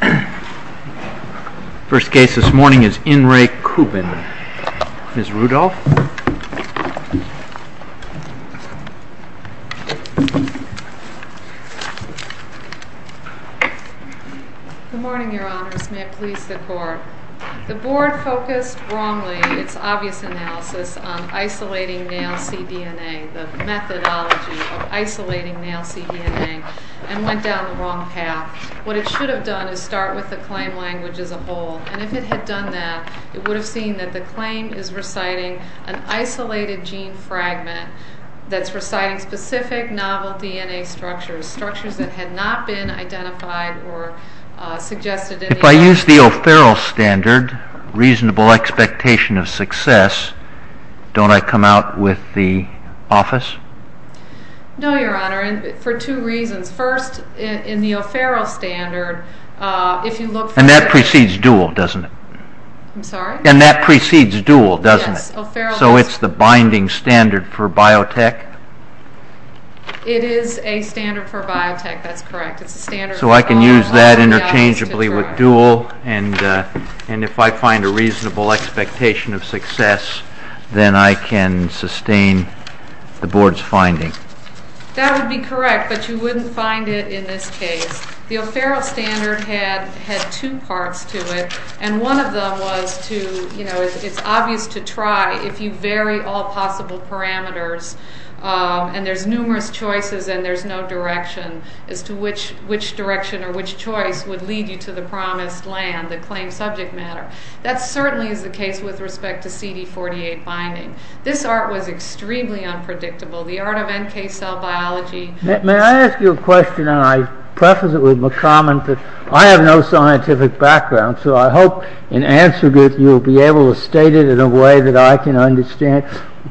The first case this morning is N. Ray Kubin. Ms. Rudolph? Good morning, Your Honors. May it please the Court. The Board focused wrongly, its obvious analysis, on isolating male cDNA, the methodology of isolating male cDNA, and went down the claim language as a whole. And if it had done that, it would have seen that the claim is reciting an isolated gene fragment that's reciting specific novel DNA structures, structures that had not been identified or suggested in the analysis. If I use the O'Farrell standard, reasonable expectation of success, don't I come out with the office? No, Your Honor, for two reasons. First, in the O'Farrell standard, if you look for... And that precedes Dual, doesn't it? I'm sorry? And that precedes Dual, doesn't it? Yes, O'Farrell is... So it's the binding standard for biotech? It is a standard for biotech, that's correct. So I can use that interchangeably with Dual, and if I find a reasonable expectation of That would be correct, but you wouldn't find it in this case. The O'Farrell standard had two parts to it, and one of them was to, you know, it's obvious to try, if you vary all possible parameters, and there's numerous choices and there's no direction as to which direction or which choice would lead you to the promised land, the claimed subject matter. That certainly is the case with respect to cD48 binding. This art was extremely unpredictable, the art of NK cell biology... May I ask you a question, and I preface it with my comment that I have no scientific background, so I hope in answer to it you'll be able to state it in a way that I can understand.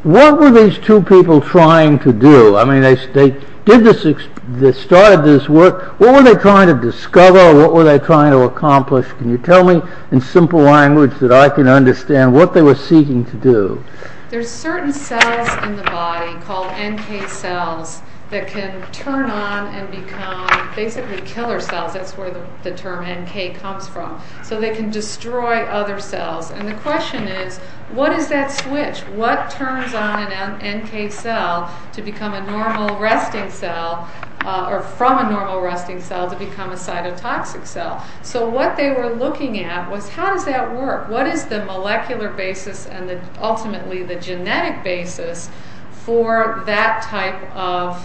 What were these two people trying to do? I mean, they did this, they started this work, what were they trying to discover, what were they trying to accomplish? Can you tell me in simple language that I can understand what they were seeking to do? There's certain cells in the body called NK cells that can turn on and become basically killer cells, that's where the term NK comes from. So they can destroy other cells, and the question is, what is that switch? What turns on an NK cell to become a normal resting cell, or from a normal resting cell to become a cytotoxic cell? So what they were looking at was, how does that work? What is the molecular basis and ultimately the genetic basis for that type of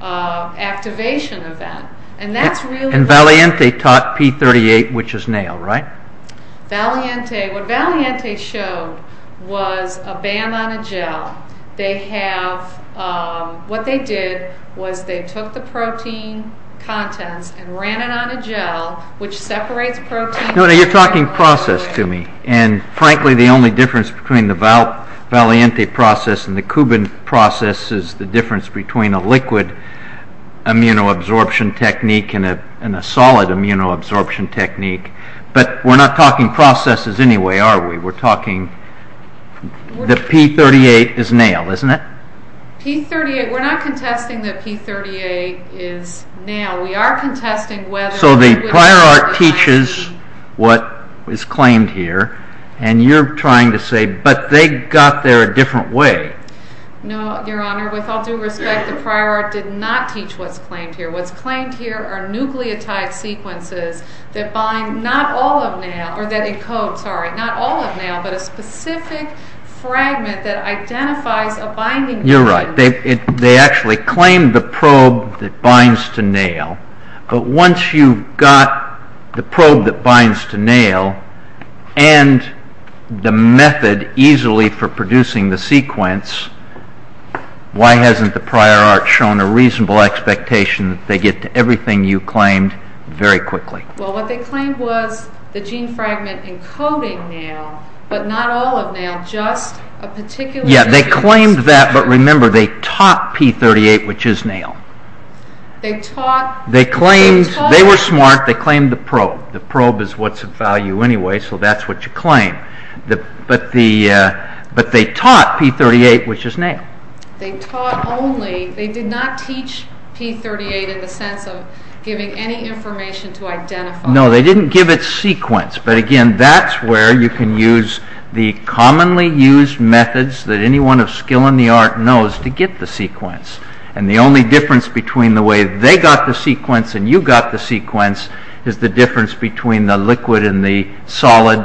activation event? And that's really... And Valiente taught P38, which is NAIL, right? Valiente, what Valiente showed was a band on a gel, they have, what they did was they took the protein contents and ran it on a gel, which separates proteins... No, no, you're talking process to me, and frankly the only difference between the Valiente process and the Kubin process is the difference between a liquid immunoabsorption technique and a solid immunoabsorption technique, but we're not talking processes anyway, are we? We're talking... The P38 is NAIL, isn't it? P38, we're not contesting that P38 is NAIL, we are contesting whether... So the prior art teaches what is claimed here, and you're trying to say, but they got there a different way. No, your honor, with all due respect, the prior art did not teach what's claimed here. What's claimed here are nucleotide sequences that bind, not all of NAIL, or that encode, sorry, not all of NAIL, but a specific fragment that identifies a binding gene. You're right, they actually claim the probe that binds to NAIL, but once you've got the probe that binds to NAIL and the method easily for producing the sequence, why hasn't the prior art shown a reasonable expectation that they get to everything you claimed very quickly? Well, what they claimed was the gene fragment encoding NAIL, but not all of NAIL, just a particular... Yeah, they claimed that, but remember, they taught P38, which is NAIL. They taught... They claimed, they were smart, they claimed the probe. The probe is what's of value anyway, so that's what you claim. But they taught P38, which is NAIL. They taught only, they did not teach P38 in the sense of giving any information to identify... No, they didn't give it sequence, but again, that's where you can use the commonly used methods that anyone of skill in the art knows to get the sequence, and the only difference between the way they got the sequence and you got the sequence is the difference between the liquid and the solid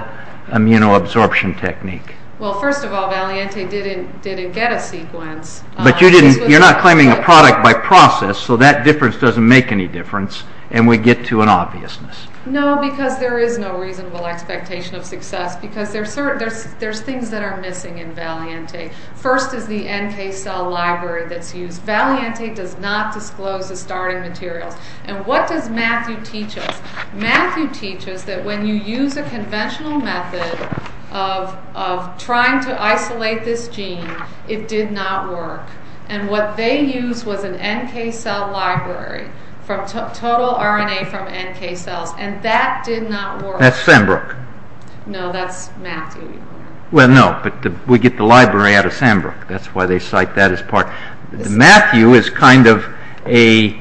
immunoabsorption technique. Well, first of all, Valiente didn't get a sequence. But you're not claiming a product by process, so that difference doesn't make any difference, and we get to an obviousness. No, because there is no reasonable expectation of success, because there's things that are missing in Valiente. First is the NK cell library that's used. Valiente does not disclose the starting materials. And what does Matthew teach us? Matthew teaches that when you use a conventional method of trying to isolate this gene, it did not work. And what they used was an NK cell library from total RNA from NK cells, and that did not work. That's Sandbrook. No, that's Matthew. Well, no, but we get the library out of Sandbrook. That's why they cite that as part. Matthew is kind of a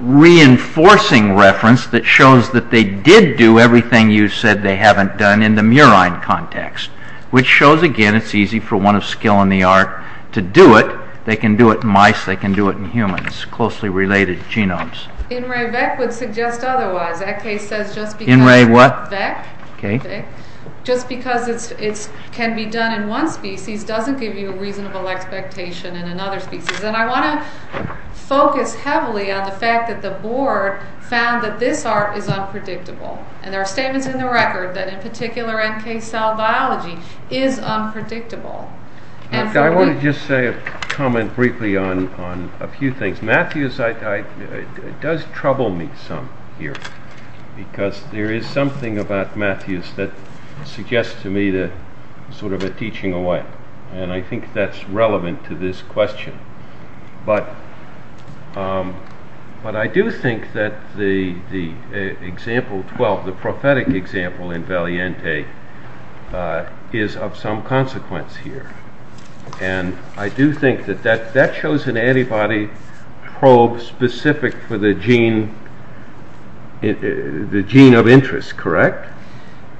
reinforcing reference that shows that they did do everything you said they haven't done in the murine context, which shows, again, it's easy for one of skill in the art to do it. They can do it in mice. They can do it in humans, closely related genomes. In ReVec would suggest otherwise. That case says just because it can be done in one species doesn't give you a reasonable expectation in another species. And I want to focus heavily on the fact that the board found that this art is unpredictable. And there are statements in the record that in particular NK cell biology is unpredictable. I want to just say a comment briefly on a few things. Matthew does trouble me some here, because there is something about Matthews that suggests to me sort of a teaching away. And I think that's relevant to this question. But I do think that the example 12, the prophetic example in Valiente, is of some consequence here. And I do think that that shows an antibody probe specific for the gene of interest, correct?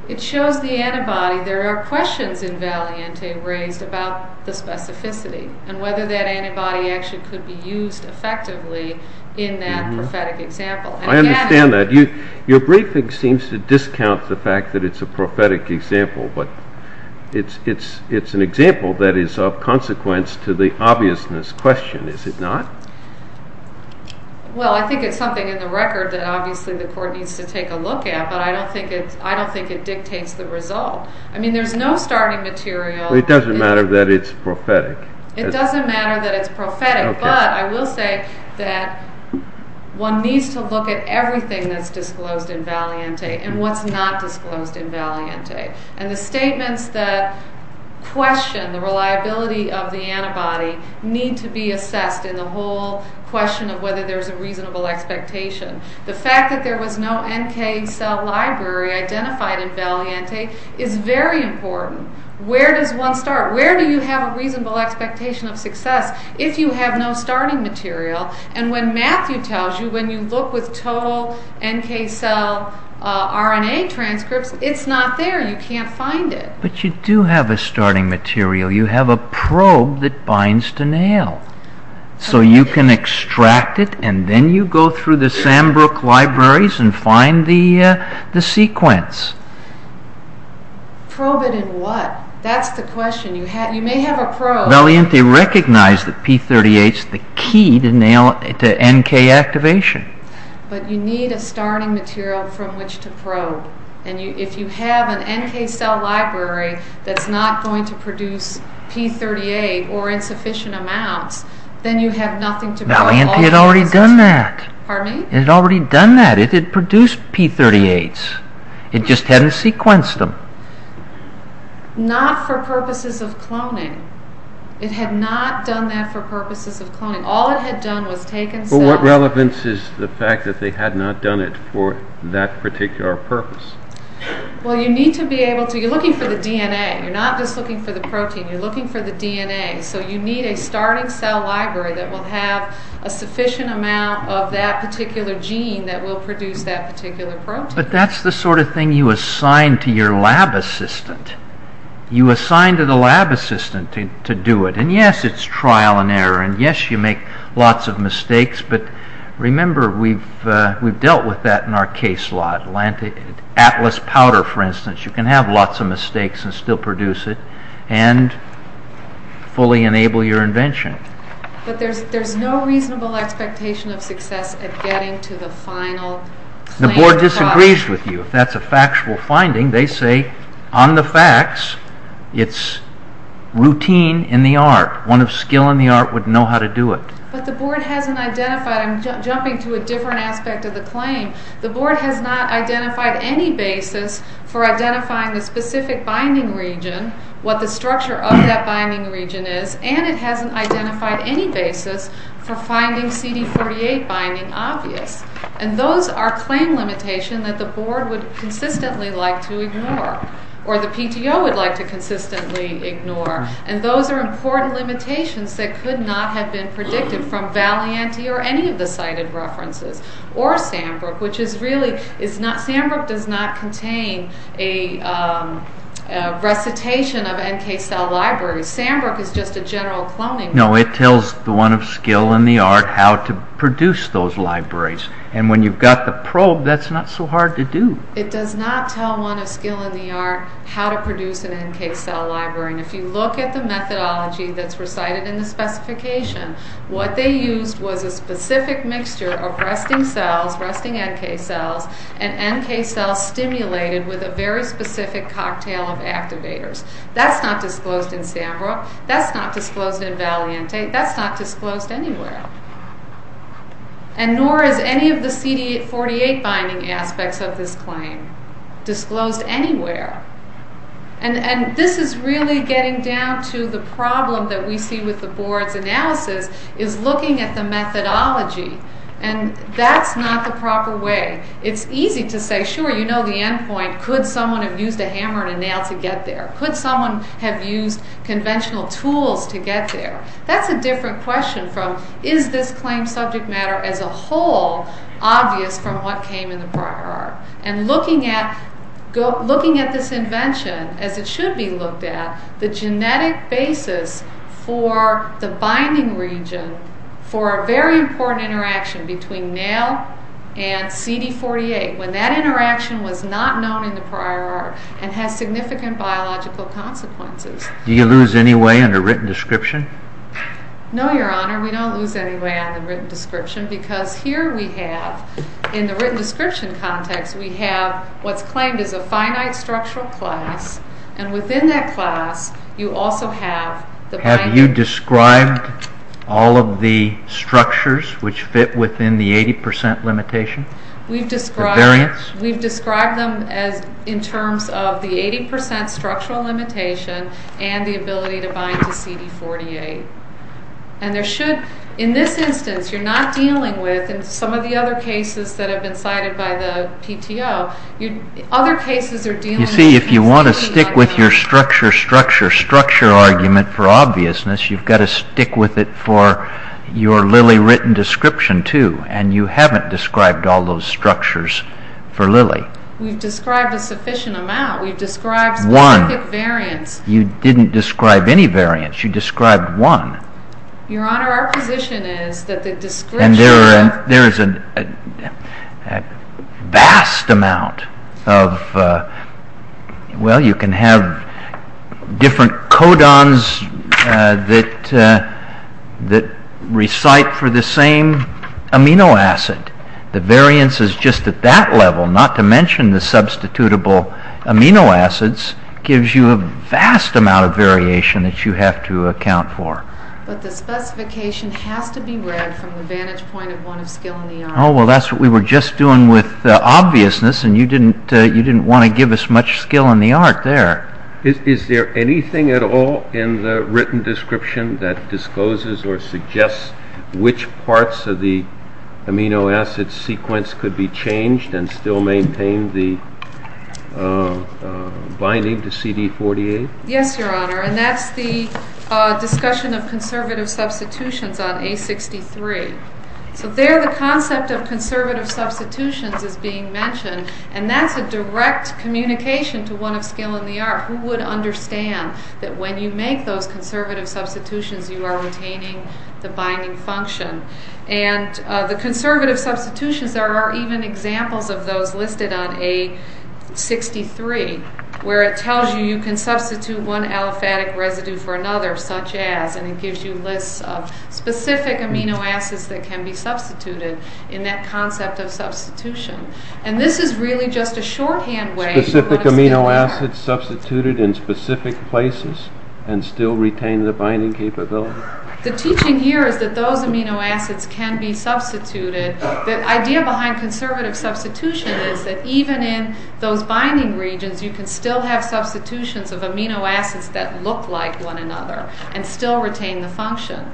It shows the antibody. There are questions in Valiente raised about the specificity and whether that antibody actually could be used effectively in that prophetic example. I understand that. Your briefing seems to discount the fact that it's a prophetic example. But it's an example that is of consequence to the obviousness question, is it not? Well, I think it's something in the record that obviously the court needs to take a look at. But I don't think it dictates the result. I mean, there's no starting material. It doesn't matter that it's prophetic. It doesn't matter that it's prophetic. But I will say that one needs to look at everything that's disclosed in Valiente and what's not disclosed in Valiente. And the statements that question the reliability of the antibody need to be assessed in the whole question of whether there's a reasonable expectation. The fact that there was no NK cell library identified in Valiente is very important. Where does one start? Where do you have a reasonable expectation of success if you have no starting material? And when Matthew tells you, when you look with total NK cell RNA transcripts, it's not there. You can't find it. But you do have a starting material. You have a probe that binds to nail. So you can extract it and then you go through the Sandbrook libraries and find the sequence. Probe it in what? That's the question. You may have a probe. Valiente recognized that P38 is the key to NK activation. But you need a starting material from which to probe. And if you have an NK cell library that's not going to produce P38 or insufficient amounts, then you have nothing to prove. Valiente had already done that. Pardon me? It had already done that. It had produced P38s. It just hadn't sequenced them. Not for purposes of cloning. It had not done that for purposes of cloning. All it had done was taken some... What relevance is the fact that they had not done it for that particular purpose? Well, you need to be able to... You're looking for the DNA. You're not just looking for the protein. You're looking for the DNA. So you need a starting cell library that will have a sufficient amount of that particular gene that will produce that particular protein. But that's the sort of thing you assign to your lab assistant. You assign to the lab assistant to do it. And yes, it's trial and error. And yes, you make lots of mistakes. But remember, we've dealt with that in our case a lot. Atlas powder, for instance, you can have lots of mistakes and still produce it and fully enable your invention. But there's no reasonable expectation of success at getting to the final... The board disagrees with you. If that's a factual finding, they say, on the facts, it's routine in the art. One of skill in the art would know how to do it. But the board hasn't identified. I'm jumping to a different aspect of the claim. The board has not identified any basis for identifying the specific binding region, what the structure of that binding region is, and it hasn't identified any basis for finding CD48 binding obvious. And those are claim limitations that the board would consistently like to ignore or the PTO would like to consistently ignore. And those are important limitations that could not have been predicted from Valianti or any of the cited references or Sandbrook, which is really is not... Sandbrook does not contain a recitation of NK cell libraries. Sandbrook is just a general cloning... No, it tells the one of skill in the art how to produce those libraries. And when you've got the probe, that's not so hard to do. It does not tell one of skill in the art how to produce an NK cell library. And if you look at the methodology that's recited in the specification, what they used was a specific mixture of resting cells, resting NK cells, and NK cells stimulated with a very specific cocktail of activators. That's not disclosed in Sandbrook. That's not disclosed in Valianti. That's not disclosed anywhere. And nor is any of the CD48 binding aspects of this claim disclosed anywhere. And this is really getting down to the problem that we see with the board's analysis is looking at the methodology. And that's not the proper way. It's easy to say, sure, you know the end point. Could someone have used a hammer and a nail to get there? Could someone have used conventional tools to get there? That's a different question from, is this claim subject matter as a whole obvious from what came in the prior art? And looking at this invention, as it should be looked at, the genetic basis for the binding region for a very important interaction between nail and CD48, when that interaction was not known in the prior art and has significant biological consequences. Do you lose any way in the written description? No, Your Honor. We don't lose any way on the written description because here we have, in the written description context, we have what's claimed as a finite structural class, and within that class you also have the binding. Have you described all of the structures which fit within the 80% limitation? We've described them in terms of the 80% structural limitation and the ability to bind to CD48. And there should, in this instance, you're not dealing with, in some of the other cases that have been cited by the PTO, other cases are dealing with... You see, if you want to stick with your structure, structure, structure argument for obviousness, you've got to stick with it for your Lilly written description too, and you haven't described all those structures for Lilly. We've described a sufficient amount. We've described specific variants. You didn't describe any variants. You described one. Your Honor, our position is that the description of... And there is a vast amount of... Well, you can have different codons that recite for the same amino acid. The variances just at that level, not to mention the substitutable amino acids, gives you a vast amount of variation that you have to account for. But the specification has to be read from the vantage point of one of skill in the art. Oh, well, that's what we were just doing with obviousness, and you didn't want to give us much skill in the art there. Is there anything at all in the written description that discloses or suggests which parts of the amino acid sequence could be changed and still maintain the binding to CD48? Yes, Your Honor, and that's the discussion of conservative substitutions on A63. So there the concept of conservative substitutions is being mentioned, and that's a direct communication to one of skill in the art. Who would understand that when you make those conservative substitutions, you are retaining the binding function? And the conservative substitutions, there are even examples of those listed on A63, where it tells you you can substitute one aliphatic residue for another, such as, and it gives you lists of specific amino acids that can be substituted in that concept of substitution. And this is really just a shorthand way... Specific amino acids substituted in specific places and still retain the binding capability. The teaching here is that those amino acids can be substituted. The idea behind conservative substitution is that even in those binding regions, you can still have substitutions of amino acids that look like one another and still retain the function.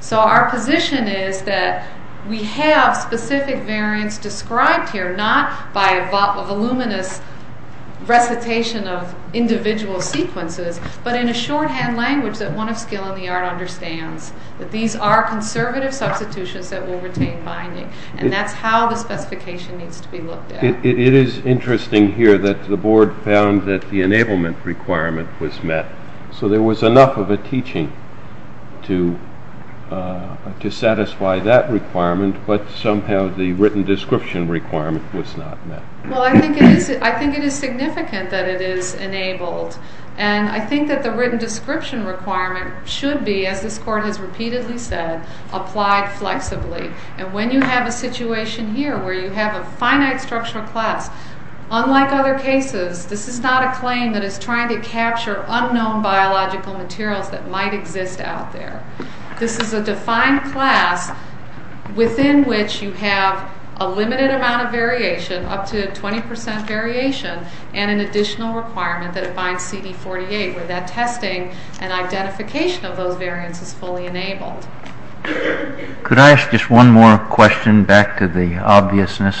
So our position is that we have specific variants described here, not by a voluminous recitation of individual sequences, but in a shorthand language that one of skill in the art understands, that these are conservative substitutions that will retain binding. And that's how the specification needs to be looked at. It is interesting here that the board found that the enablement requirement was met. So there was enough of a teaching to satisfy that requirement, but somehow the written description requirement was not met. Well, I think it is significant that it is enabled. And I think that the written description requirement should be, as this court has repeatedly said, applied flexibly. And when you have a situation here where you have a finite structural class, unlike other cases, this is not a claim that is trying to capture unknown biological materials that might exist out there. This is a defined class within which you have a limited amount of variation, up to 20% variation, and an additional requirement that it binds CD48, where that testing and identification of those variants is fully enabled. Could I ask just one more question, back to the obviousness?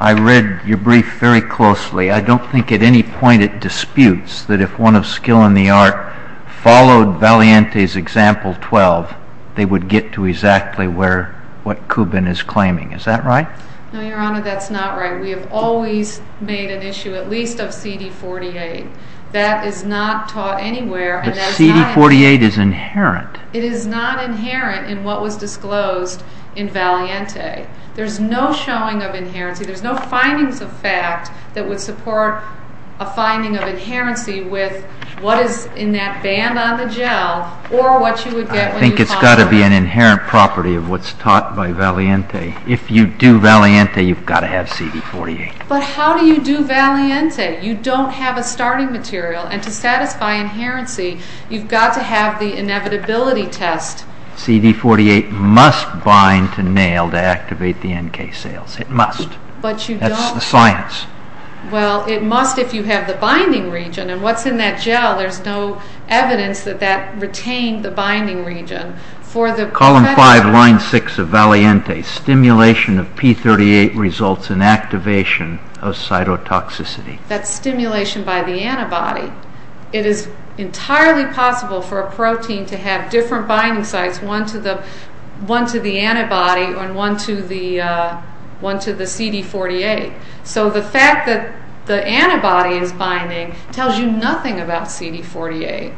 I read your brief very closely. I don't think at any point it disputes that if one of skill in the art followed Valiente's example 12, they would get to exactly what Kubin is claiming. Is that right? No, Your Honor, that's not right. We have always made an issue at least of CD48. That is not taught anywhere. But CD48 is inherent. It is not inherent in what was disclosed in Valiente. There's no showing of inherency. There's no findings of fact that would support a finding of inherency with what is in that band on the gel or what you would get when you populate it. I think it's got to be an inherent property of what's taught by Valiente. Okay. If you do Valiente, you've got to have CD48. But how do you do Valiente? You don't have a starting material. And to satisfy inherency, you've got to have the inevitability test. CD48 must bind to nail to activate the NK cells. It must. But you don't. That's the science. Well, it must if you have the binding region. And what's in that gel, there's no evidence that that retained the binding region. Column 5, line 6 of Valiente. Stimulation of P38 results in activation of cytotoxicity. That's stimulation by the antibody. It is entirely possible for a protein to have different binding sites, one to the antibody and one to the CD48. So the fact that the antibody is binding tells you nothing about CD48.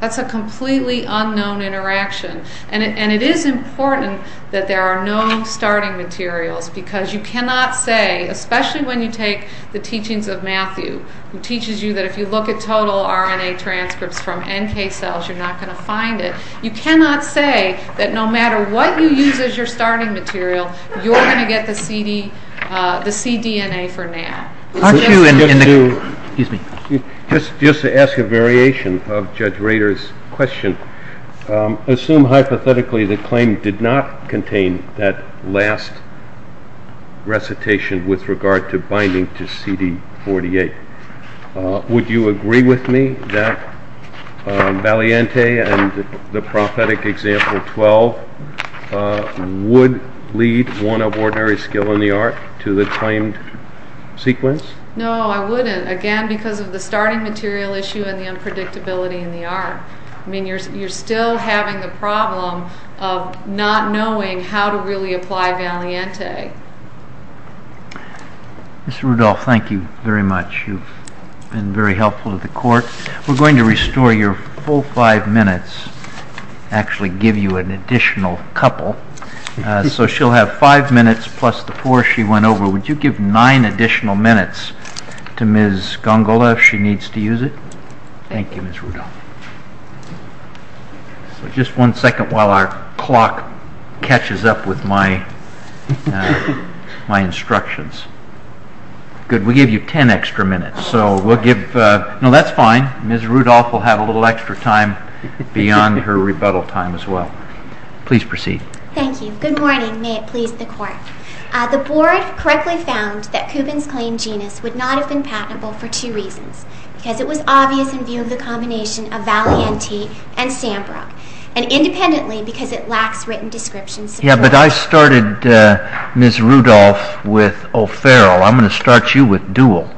That's a completely unknown interaction. And it is important that there are no starting materials because you cannot say, especially when you take the teachings of Matthew, who teaches you that if you look at total RNA transcripts from NK cells, you're not going to find it. You cannot say that no matter what you use as your starting material, you're going to get the cDNA for now. Excuse me. Just to ask a variation of Judge Rader's question, assume hypothetically the claim did not contain that last recitation with regard to binding to CD48. Would you agree with me that Valiente and the prophetic example 12 would lead one of ordinary skill in the art to the claimed sequence? No, I wouldn't. Again, because of the starting material issue and the unpredictability in the art. You're still having the problem of not knowing how to really apply Valiente. Mr. Rudolph, thank you very much. You've been very helpful to the court. We're going to restore your full five minutes, actually give you an additional couple. So she'll have five minutes plus the four she went over. Would you give nine additional minutes to Ms. Gongola if she needs to use it? Thank you, Ms. Rudolph. Just one second while our clock catches up with my instructions. Good. We'll give you ten extra minutes. No, that's fine. Ms. Rudolph will have a little extra time beyond her rebuttal time as well. Please proceed. Thank you. Good morning. May it please the court. The board correctly found that Kubin's claimed genus would not have been patentable for two reasons. Because it was obvious in view of the combination of Valiente and Sandbrook, and independently because it lacks written descriptions. Yeah, but I started Ms. Rudolph with O'Farrell. I'm going to start you with Duell.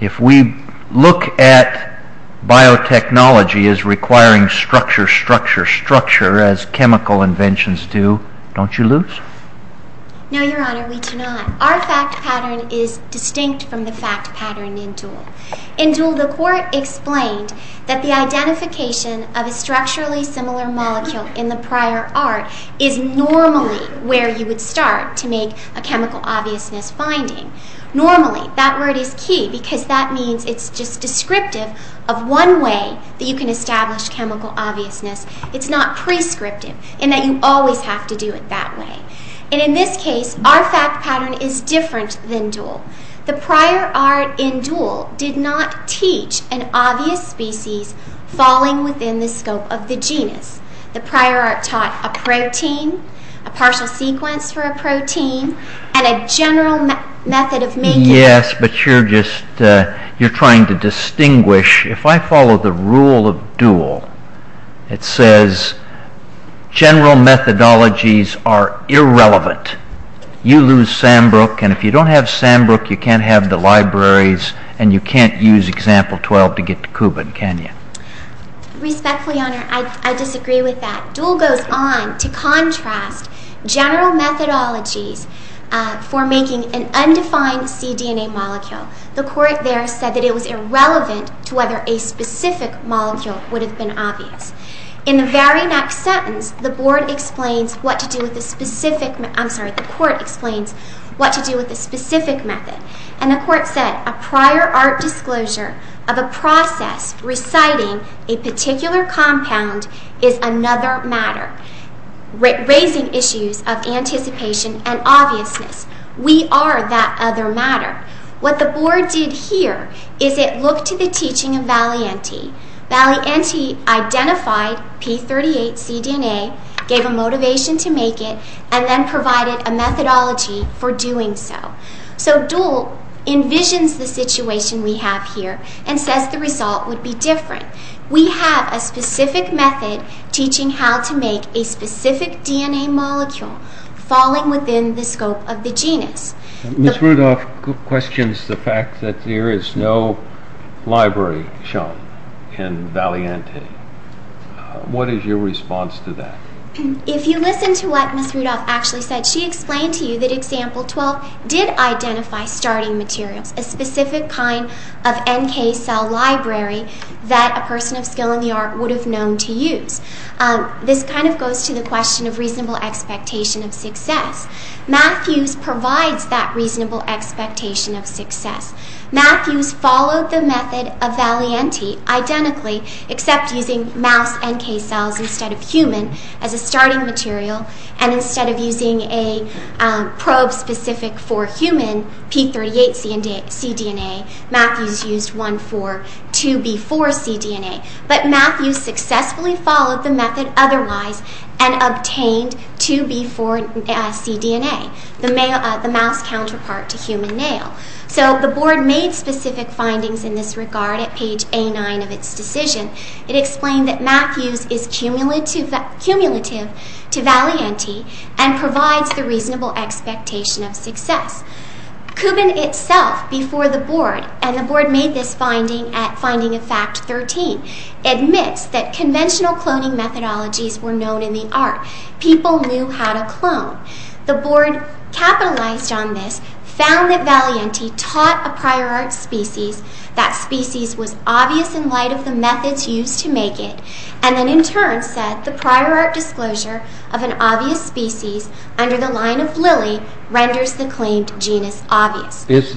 If we look at biotechnology as requiring structure, structure, structure, as chemical inventions do, don't you lose? No, Your Honor, we do not. Our fact pattern is distinct from the fact pattern in Duell. In Duell, the court explained that the identification of a structurally similar molecule in the prior art is normally where you would start to make a chemical obviousness finding. Normally, that word is key because that means it's just descriptive of one way that you can establish chemical obviousness. It's not prescriptive in that you always have to do it that way. And in this case, our fact pattern is different than Duell. The prior art in Duell did not teach an obvious species falling within the scope of the genus. The prior art taught a protein, a partial sequence for a protein, and a general method of making it. Yes, but you're trying to distinguish. If I follow the rule of Duell, it says general methodologies are irrelevant. You lose Sandbrook, and if you don't have Sandbrook, you can't have the libraries, and you can't use Example 12 to get to Cuban, can you? Respectfully, Your Honor, I disagree with that. Duell goes on to contrast general methodologies for making an undefined cDNA molecule. The court there said that it was irrelevant to whether a specific molecule would have been obvious. In the very next sentence, the court explains what to do with a specific method, and the court said, A prior art disclosure of a process reciting a particular compound is another matter, raising issues of anticipation and obviousness. We are that other matter. What the board did here is it looked to the teaching of Valianti. Valianti identified p38 cDNA, gave a motivation to make it, and then provided a methodology for doing so. So Duell envisions the situation we have here and says the result would be different. We have a specific method teaching how to make a specific DNA molecule falling within the scope of the genus. Ms. Rudolph questions the fact that there is no library shown in Valianti. What is your response to that? If you listen to what Ms. Rudolph actually said, she explained to you that example 12 did identify starting materials, a specific kind of NK cell library that a person of skill in the art would have known to use. This kind of goes to the question of reasonable expectation of success. Mathews provides that reasonable expectation of success. Mathews followed the method of Valianti identically, except using mouse NK cells instead of human as a starting material, and instead of using a probe specific for human p38 cDNA, Mathews used one for 2b4 cDNA. But Mathews successfully followed the method otherwise and obtained 2b4 cDNA, the mouse counterpart to human male. So the board made specific findings in this regard at page A9 of its decision. It explained that Mathews is cumulative to Valianti and provides the reasonable expectation of success. Kubin itself, before the board, and the board made this finding at finding of fact 13, admits that conventional cloning methodologies were known in the art. People knew how to clone. The board capitalized on this, found that Valianti taught a prior art species, that species was obvious in light of the methods used to make it, and then in turn said the prior art disclosure of an obvious species under the line of lily renders the claimed genus obvious. Is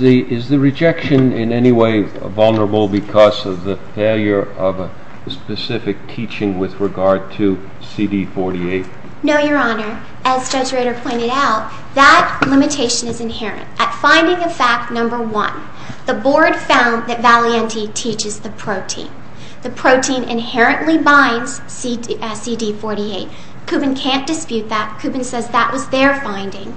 the rejection in any way vulnerable because of the failure of a specific teaching with regard to cD48? No, Your Honor. At finding of fact number 1, the board found that Valianti teaches the protein. The protein inherently binds cD48. Kubin can't dispute that. Kubin says that was their finding.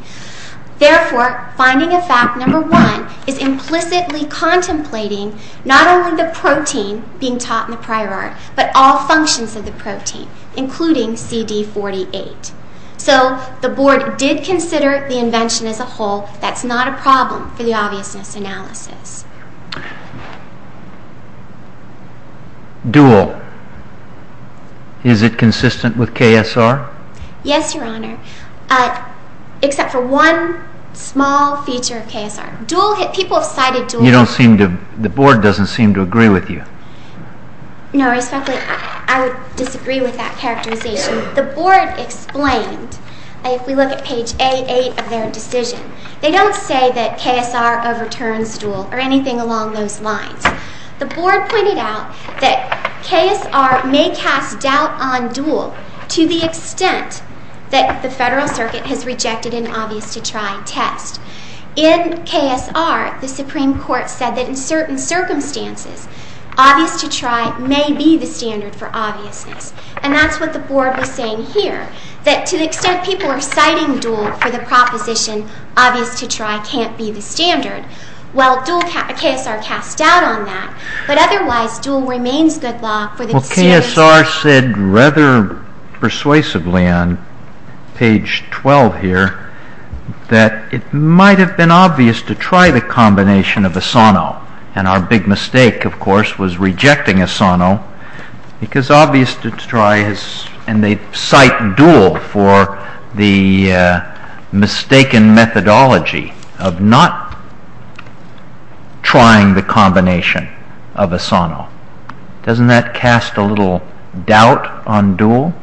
Therefore, finding of fact number 1 is implicitly contemplating not only the protein being taught in the prior art, but all functions of the protein, including cD48. So the board did consider the invention as a whole. That's not a problem for the obviousness analysis. Dual. Is it consistent with KSR? Yes, Your Honor, except for one small feature of KSR. Dual, people have cited dual. You don't seem to, the board doesn't seem to agree with you. No, respectfully, I would disagree with that characterization. The board explained, if we look at page 88 of their decision, they don't say that KSR overturns dual or anything along those lines. The board pointed out that KSR may cast doubt on dual to the extent that the Federal Circuit has rejected an obvious to try test. In KSR, the Supreme Court said that in certain circumstances, obvious to try may be the standard for obviousness. And that's what the board was saying here. That to the extent people are citing dual for the proposition, obvious to try can't be the standard. Well, KSR cast doubt on that. But otherwise, dual remains good law for the standard. Well, KSR said rather persuasively on page 12 here that it might have been obvious to try the combination of Asano. And our big mistake, of course, was rejecting Asano. Because obvious to try, and they cite dual for the mistaken methodology of not trying the combination of Asano. Doesn't that cast a little doubt on dual?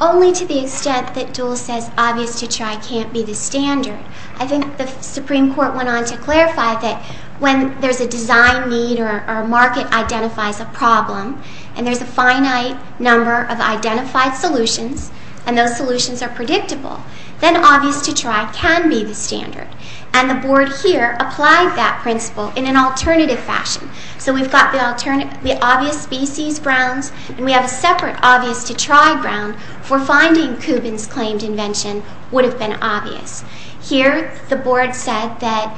Only to the extent that dual says obvious to try can't be the standard. I think the Supreme Court went on to clarify that when there's a design need or a market identifies a problem, and there's a finite number of identified solutions, and those solutions are predictable, then obvious to try can be the standard. And the board here applied that principle in an alternative fashion. So we've got the obvious species grounds, and we have a separate obvious to try ground for finding the reason why Kubin's claimed invention would have been obvious. Here, the board said that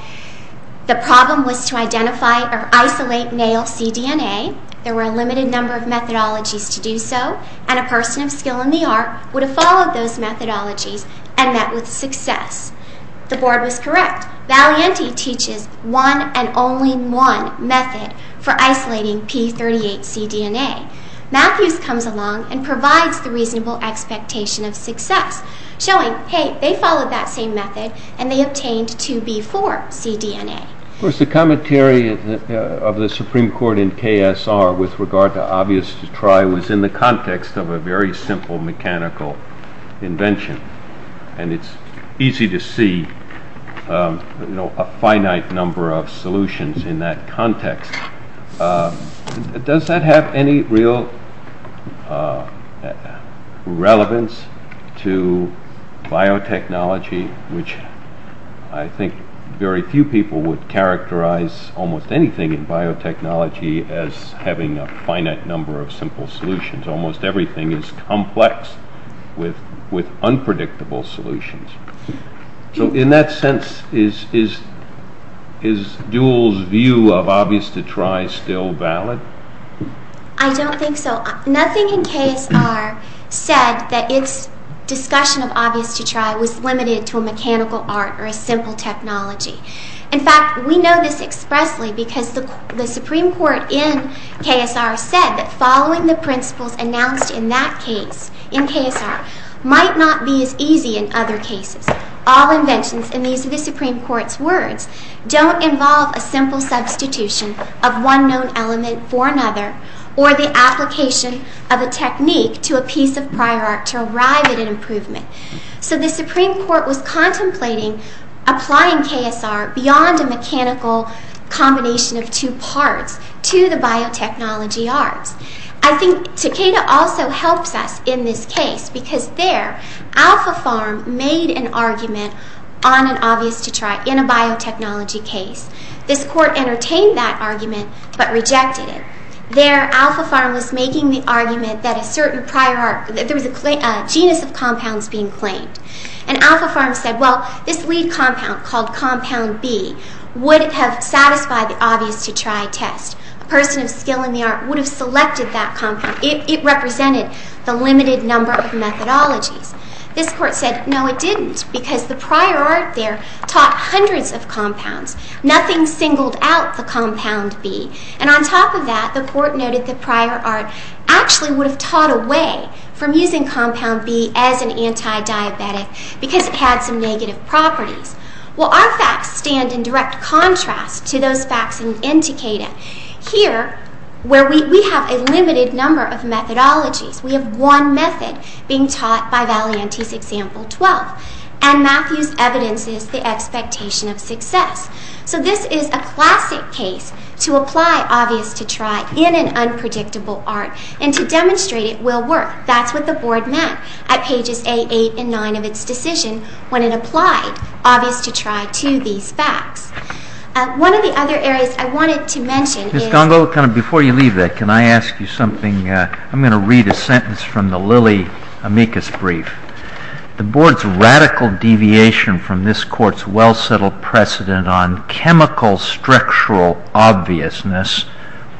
the problem was to identify or isolate male cDNA. There were a limited number of methodologies to do so, and a person of skill in the art would have followed those methodologies and met with success. The board was correct. Valianti teaches one and only one method for isolating p38 cDNA. Matthews comes along and provides the reasonable expectation of success, showing, hey, they followed that same method, and they obtained 2B4 cDNA. Of course, the commentary of the Supreme Court in KSR with regard to obvious to try was in the context of a very simple mechanical invention, and it's easy to see a finite number of solutions in that context. Does that have any real relevance to biotechnology, which I think very few people would characterize almost anything in biotechnology as having a finite number of simple solutions. Almost everything is complex with unpredictable solutions. So in that sense, is Duell's view of obvious to try still valid? I don't think so. Nothing in KSR said that its discussion of obvious to try was limited to a mechanical art or a simple technology. In fact, we know this expressly because the Supreme Court in KSR said that following the principles announced in that case in KSR might not be as easy in other cases. All inventions, and these are the Supreme Court's words, don't involve a simple substitution of one known element for another or the application of a technique to a piece of prior art to arrive at an improvement. So the Supreme Court was contemplating applying KSR beyond a mechanical combination of two parts to the biotechnology arts. I think Takeda also helps us in this case because there, Alpha Farm made an argument on an obvious to try in a biotechnology case. This court entertained that argument but rejected it. There, Alpha Farm was making the argument that there was a genus of compounds being claimed. And Alpha Farm said, well, this lead compound called compound B would have satisfied the obvious to try test. A person of skill in the art would have selected that compound. It represented the limited number of methodologies. This court said, no, it didn't, because the prior art there taught hundreds of compounds. Nothing singled out the compound B. And on top of that, the court noted the prior art actually would have taught away from using compound B as an anti-diabetic because it had some negative properties. Well, our facts stand in direct contrast to those facts in N. Takeda. Here, where we have a limited number of methodologies, we have one method being taught by Valianti's example 12. And Matthew's evidence is the expectation of success. So this is a classic case to apply obvious to try in an unpredictable art and to demonstrate it will work. That's what the board meant at pages 8, 8, and 9 of its decision when it applied obvious to try to these facts. One of the other areas I wanted to mention is— Mr. Gongo, before you leave that, can I ask you something? I'm going to read a sentence from the Lilly amicus brief. The board's radical deviation from this court's well-settled precedent on chemical structural obviousness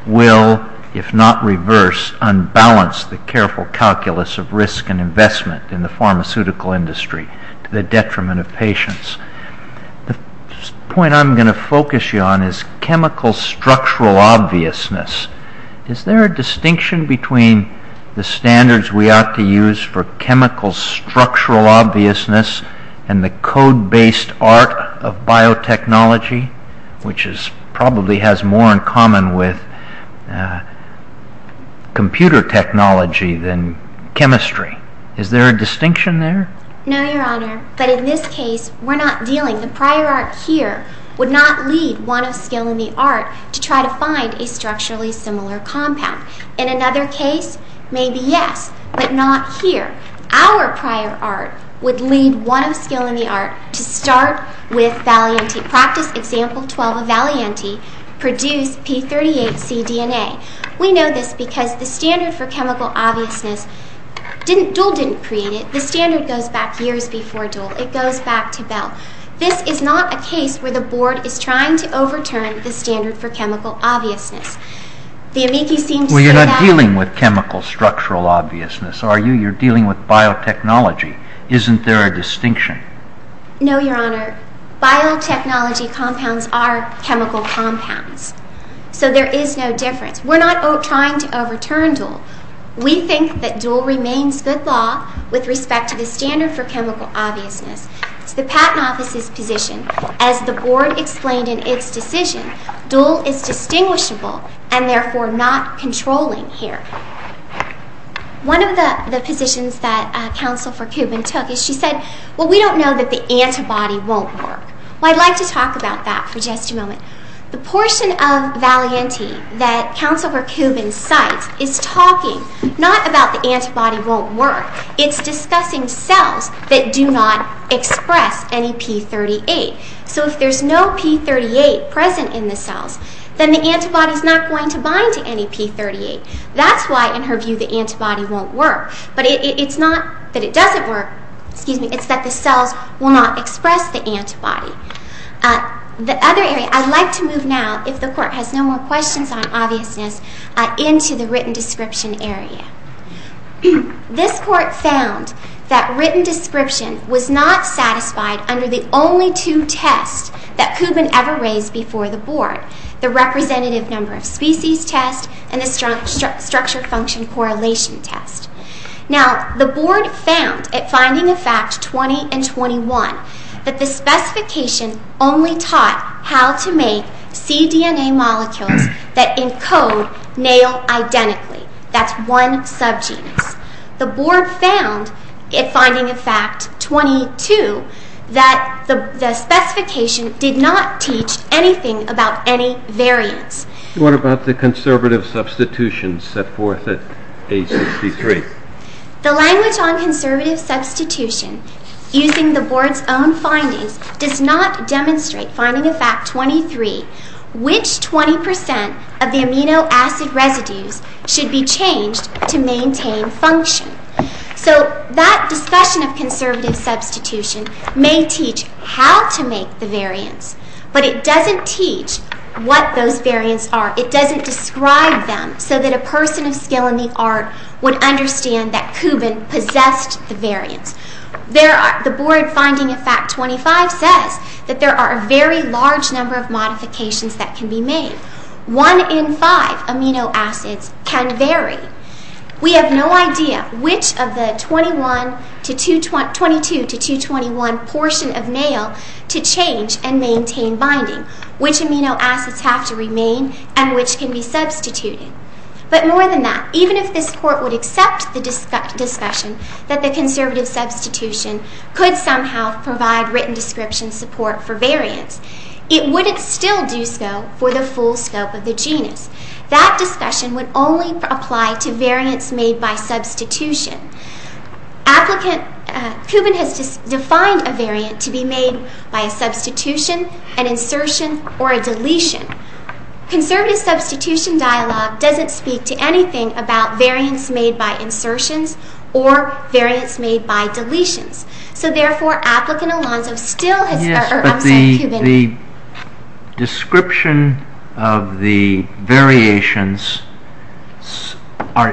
will, if not reverse, unbalance the careful calculus of risk and investment in the pharmaceutical industry to the detriment of patients. The point I'm going to focus you on is chemical structural obviousness. Is there a distinction between the standards we ought to use for chemical structural obviousness and the code-based art of biotechnology, which probably has more in common with computer technology than chemistry? Is there a distinction there? No, Your Honor, but in this case we're not dealing— In another case, maybe yes, but not here. Our prior art would lead one of the skill in the art to start with Valianti. Practice example 12 of Valianti produced P38c DNA. We know this because the standard for chemical obviousness—Duhl didn't create it. The standard goes back years before Duhl. It goes back to Bell. This is not a case where the board is trying to overturn the standard for chemical obviousness. The amici seem to say that— Well, you're not dealing with chemical structural obviousness, are you? You're dealing with biotechnology. Isn't there a distinction? No, Your Honor. Biotechnology compounds are chemical compounds, so there is no difference. We're not trying to overturn Duhl. We think that Duhl remains good law with respect to the standard for chemical obviousness. It's the Patent Office's position, as the board explained in its decision, Duhl is distinguishable and therefore not controlling here. One of the positions that Counsel for Kubin took is she said, Well, we don't know that the antibody won't work. Well, I'd like to talk about that for just a moment. The portion of Valianti that Counsel for Kubin cites is talking not about the antibody won't work. It's discussing cells that do not express any P38. So if there's no P38 present in the cells, then the antibody is not going to bind to any P38. That's why, in her view, the antibody won't work. But it's not that it doesn't work. It's that the cells will not express the antibody. The other area—I'd like to move now, if the Court has no more questions on obviousness, into the written description area. This Court found that written description was not satisfied under the only two tests that Kubin ever raised before the board, the representative number of species test and the structure function correlation test. Now, the board found, at finding a fact 20 and 21, that the specification only taught how to make cDNA molecules that, in code, nail identically. That's one subgenus. The board found, at finding a fact 22, that the specification did not teach anything about any variants. What about the conservative substitution set forth at A63? The language on conservative substitution, using the board's own findings, does not demonstrate, finding a fact 23, which 20 percent of the amino acid residues should be changed to maintain function. So that discussion of conservative substitution may teach how to make the variants, but it doesn't teach what those variants are. It doesn't describe them so that a person of skill in the art would understand that Kubin possessed the variants. The board, finding a fact 25, says that there are a very large number of modifications that can be made. One in five amino acids can vary. We have no idea which of the 22 to 221 portion of male to change and maintain binding, which amino acids have to remain and which can be substituted. But more than that, even if this court would accept the discussion that the conservative substitution could somehow provide written description support for variants, it wouldn't still do so for the full scope of the genus. That discussion would only apply to variants made by substitution. Kubin has defined a variant to be made by a substitution, an insertion, or a deletion. Conservative substitution dialogue doesn't speak to anything about variants made by insertions or variants made by deletions. So therefore, applicant Alonzo still has... Yes, but the description of the variations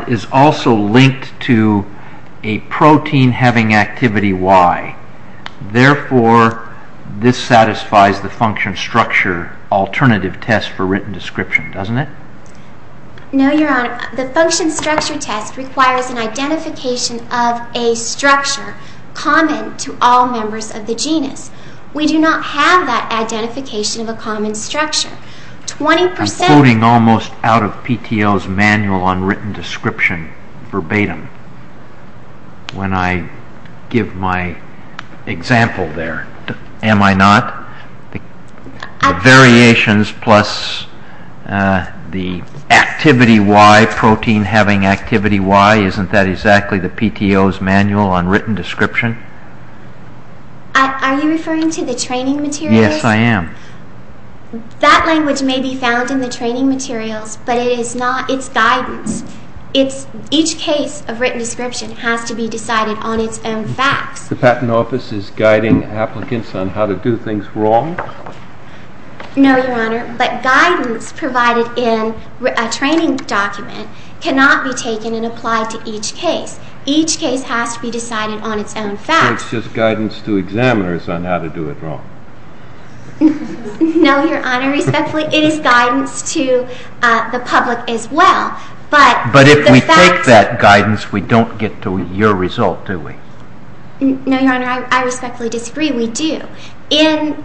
is also linked to a protein having activity Y. Therefore, this satisfies the function structure alternative test for written description, doesn't it? No, Your Honor. The function structure test requires an identification of a structure common to all members of the genus. We do not have that identification of a common structure. I'm floating almost out of PTO's manual on written description verbatim when I give my example there, am I not? The variations plus the activity Y, protein having activity Y, isn't that exactly the PTO's manual on written description? Are you referring to the training materials? Yes, I am. That language may be found in the training materials, but it's guidance. Each case of written description has to be decided on its own facts. The Patent Office is guiding applicants on how to do things wrong? No, Your Honor, but guidance provided in a training document cannot be taken and applied to each case. Each case has to be decided on its own facts. So it's just guidance to examiners on how to do it wrong? No, Your Honor, respectfully, it is guidance to the public as well. But if we take that guidance, we don't get to your result, do we? No, Your Honor, I respectfully disagree. We do. In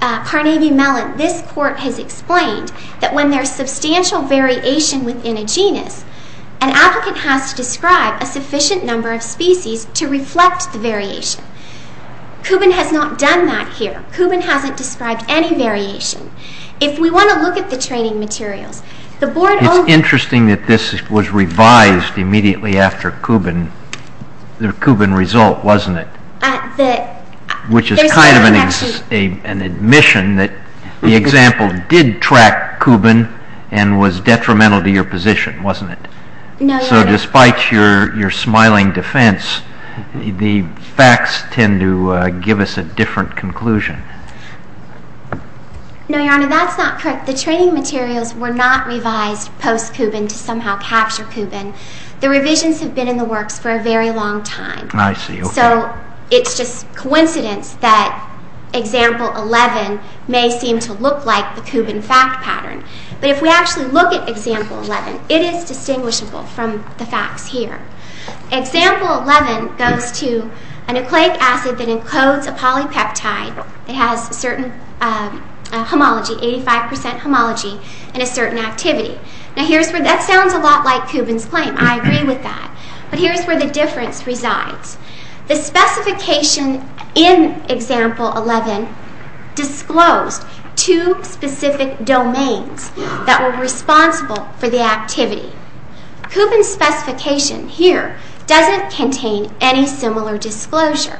Carnegie-Mellon, this Court has explained that when there's substantial variation within a genus, an applicant has to describe a sufficient number of species to reflect the variation. Kubin has not done that here. Kubin hasn't described any variation. If we want to look at the training materials, the Board... It's interesting that this was revised immediately after Kubin, the Kubin result, wasn't it? The... Which is kind of an admission that the example did track Kubin and was detrimental to your position, wasn't it? No, Your Honor. So despite your smiling defense, the facts tend to give us a different conclusion. No, Your Honor, that's not correct. The training materials were not revised post-Kubin to somehow capture Kubin. The revisions have been in the works for a very long time. I see. Okay. So it's just coincidence that example 11 may seem to look like the Kubin fact pattern. But if we actually look at example 11, it is distinguishable from the facts here. Example 11 goes to an acrylic acid that encodes a polypeptide that has a certain homology, 85% homology, in a certain activity. Now here's where... That sounds a lot like Kubin's claim. I agree with that. But here's where the difference resides. The specification in example 11 disclosed two specific domains that were responsible for the activity. Kubin's specification here doesn't contain any similar disclosure.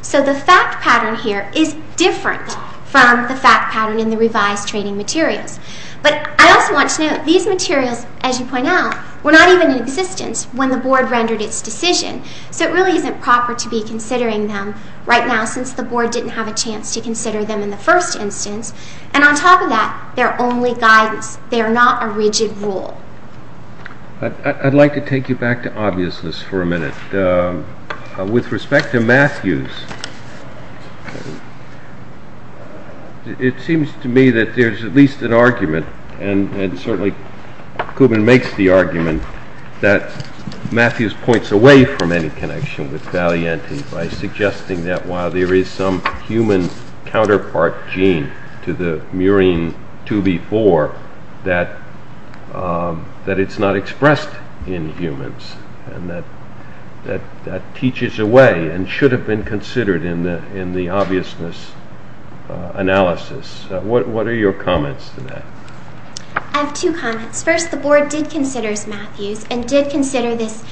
So the fact pattern here is different from the fact pattern in the revised training materials. But I also want to note these materials, as you point out, were not even in existence when the Board rendered its decision. So it really isn't proper to be considering them right now since the Board didn't have a chance to consider them in the first instance. And on top of that, they're only guidance. They are not a rigid rule. I'd like to take you back to obviousness for a minute. With respect to Matthews, it seems to me that there's at least an argument, and certainly Kubin makes the argument, that Matthews points away from any connection with Valianti by suggesting that while there is some human counterpart gene to the murine 2b4, that it's not expressed in humans, and that that teaches away and should have been considered in the obviousness analysis. What are your comments to that? I have two comments. First, the Board did consider Matthews and did consider this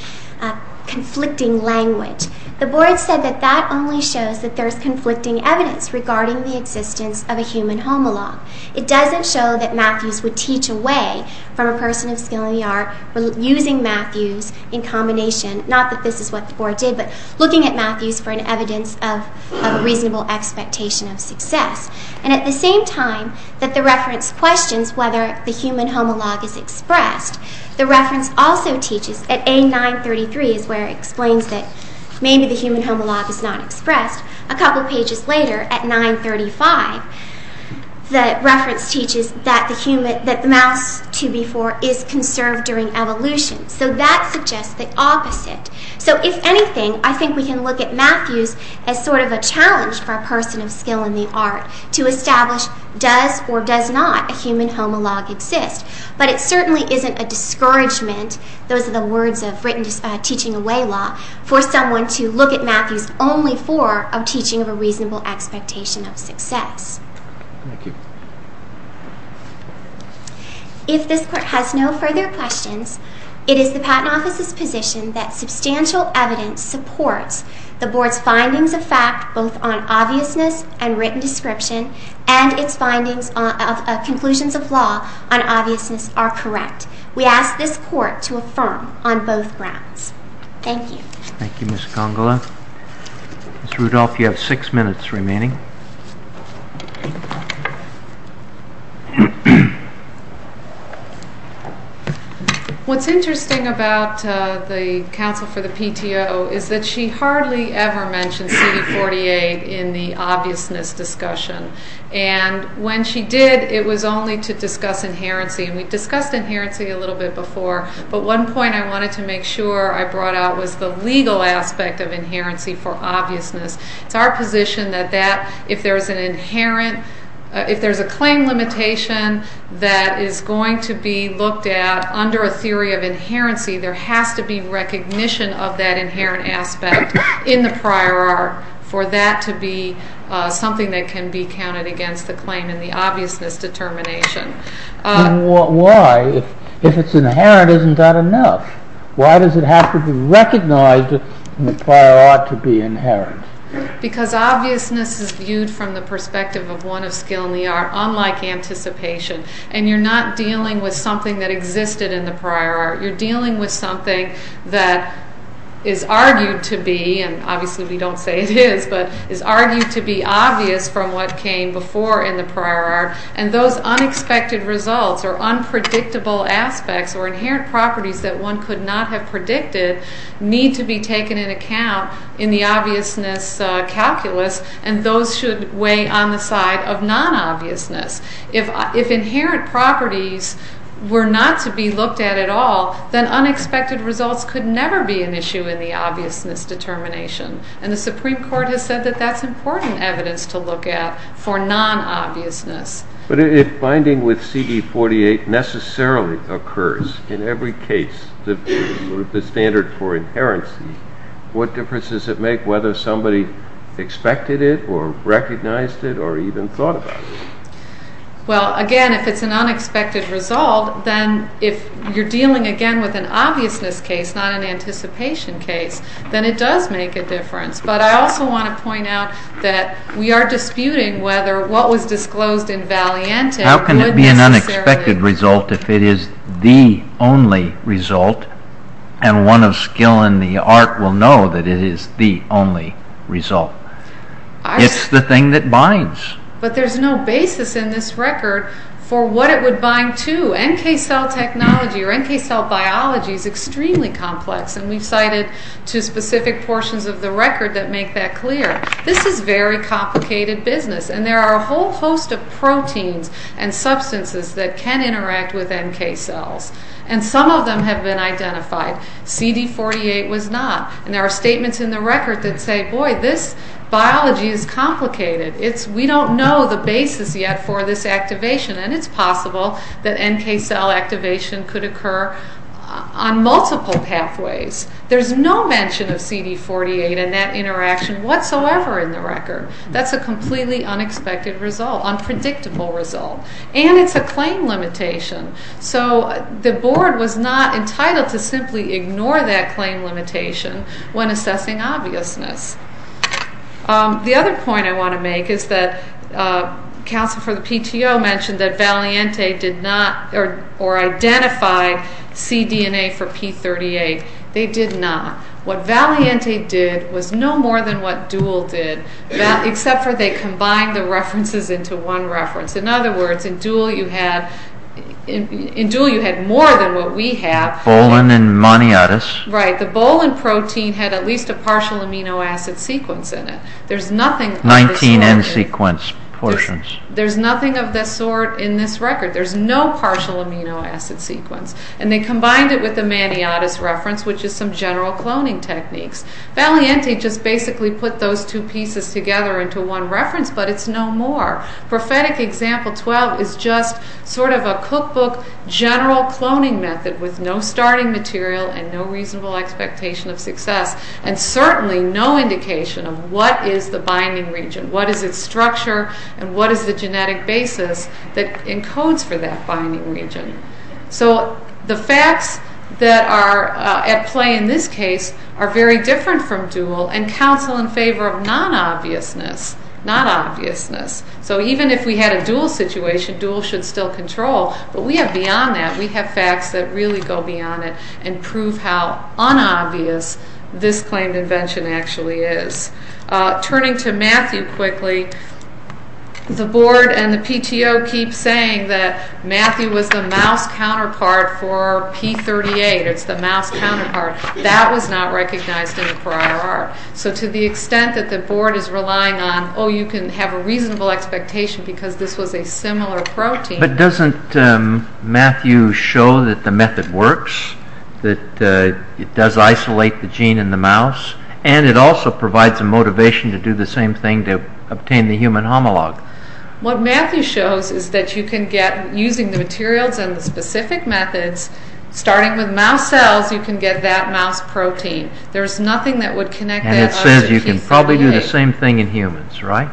conflicting language. The Board said that that only shows that there's conflicting evidence regarding the existence of a human homologue. It doesn't show that Matthews would teach away from a person of skill in the art using Matthews in combination, not that this is what the Board did, but looking at Matthews for an evidence of a reasonable expectation of success. And at the same time that the reference questions whether the human homologue is expressed, the reference also teaches at A933 is where it explains that maybe the human homologue is not expressed. A couple pages later, at 935, the reference teaches that the mouse 2b4 is conserved during evolution. So that suggests the opposite. So if anything, I think we can look at Matthews as sort of a challenge for a person of skill in the art to establish does or does not a human homologue exist. But it certainly isn't a discouragement, those are the words of teaching away law, for someone to look at Matthews only for a teaching of a reasonable expectation of success. Thank you. If this Court has no further questions, it is the Patent Office's position that substantial evidence supports the Board's findings of fact both on obviousness and written description and its findings of conclusions of law on obviousness are correct. We ask this Court to affirm on both grounds. Thank you. Thank you, Ms. Congola. Ms. Rudolph, you have six minutes remaining. What's interesting about the counsel for the PTO is that she hardly ever mentioned CD48 in the obviousness discussion. And when she did, it was only to discuss inherency. And we discussed inherency a little bit before, but one point I wanted to make sure I brought out was the legal aspect of inherency for obviousness. It's our position that if there's a claim limitation that is going to be looked at under a theory of inherency, there has to be recognition of that inherent aspect in the prior art for that to be something that can be counted against the claim in the obviousness determination. Why? If it's inherent, isn't that enough? Why does it have to be recognized in the prior art to be inherent? Because obviousness is viewed from the perspective of one of skill in the art, unlike anticipation. And you're not dealing with something that existed in the prior art. You're dealing with something that is argued to be, and obviously we don't say it is, but is argued to be obvious from what came before in the prior art. And those unexpected results or unpredictable aspects or inherent properties that one could not have predicted need to be taken into account in the obviousness calculus, and those should weigh on the side of non-obviousness. If inherent properties were not to be looked at at all, then unexpected results could never be an issue in the obviousness determination. And the Supreme Court has said that that's important evidence to look at for non-obviousness. But if binding with CD 48 necessarily occurs in every case, the standard for inherency, what difference does it make whether somebody expected it or recognized it or even thought about it? Well, again, if it's an unexpected result, then if you're dealing again with an obviousness case, not an anticipation case, then it does make a difference. But I also want to point out that we are disputing whether what was disclosed in Valiantis would necessarily... How can it be an unexpected result if it is the only result and one of skill in the art will know that it is the only result? It's the thing that binds. But there's no basis in this record for what it would bind to. NK cell technology or NK cell biology is extremely complex. And we've cited two specific portions of the record that make that clear. This is very complicated business. And there are a whole host of proteins and substances that can interact with NK cells. And some of them have been identified. CD 48 was not. And there are statements in the record that say, boy, this biology is complicated. We don't know the basis yet for this activation. And it's possible that NK cell activation could occur on multiple pathways. There's no mention of CD 48 and that interaction whatsoever in the record. That's a completely unexpected result, unpredictable result. And it's a claim limitation. So the board was not entitled to simply ignore that claim limitation when assessing obviousness. The other point I want to make is that counsel for the PTO mentioned that Valiente did not or identified cDNA for P38. They did not. What Valiente did was no more than what Dual did, except for they combined the references into one reference. In other words, in Dual you had more than what we have. Bolin and moniotis. Right, the Bolin protein had at least a partial amino acid sequence in it. There's nothing of this sort. 19N sequence portions. There's nothing of this sort in this record. There's no partial amino acid sequence. And they combined it with the moniotis reference, which is some general cloning techniques. Valiente just basically put those two pieces together into one reference, but it's no more. Prophetic example 12 is just sort of a cookbook general cloning method with no starting material and no reasonable expectation of success. And certainly no indication of what is the binding region, what is its structure, and what is the genetic basis that encodes for that binding region. So the facts that are at play in this case are very different from Dual and counsel in favor of non-obviousness, not obviousness. So even if we had a Dual situation, Dual should still control. But we have beyond that. We have facts that really go beyond it and prove how unobvious this claimed invention actually is. Turning to Matthew quickly, the board and the PTO keep saying that Matthew was the mouse counterpart for P38. It's the mouse counterpart. That was not recognized in the prior art. So to the extent that the board is relying on, oh, you can have a reasonable expectation because this was a similar protein. But doesn't Matthew show that the method works, that it does isolate the gene in the mouse, and it also provides a motivation to do the same thing to obtain the human homologue? What Matthew shows is that you can get, using the materials and the specific methods, starting with mouse cells, you can get that mouse protein. There's nothing that would connect that up to P38. And it says you can probably do the same thing in humans, right?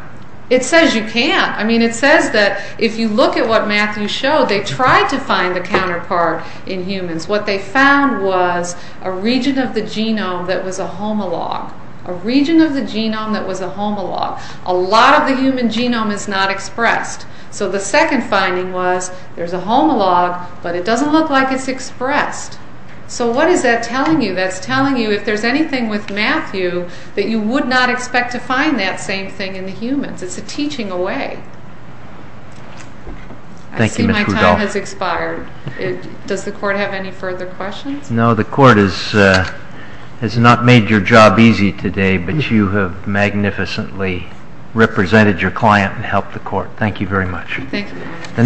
It says you can. I mean, it says that if you look at what Matthew showed, they tried to find the counterpart in humans. What they found was a region of the genome that was a homologue. A region of the genome that was a homologue. A lot of the human genome is not expressed. So the second finding was there's a homologue, but it doesn't look like it's expressed. So what is that telling you? That's telling you if there's anything with Matthew that you would not expect to find that same thing in the humans. It's a teaching away. I see my time has expired. Does the court have any further questions? No, the court has not made your job easy today, but you have magnificently represented your client and helped the court. Thank you very much.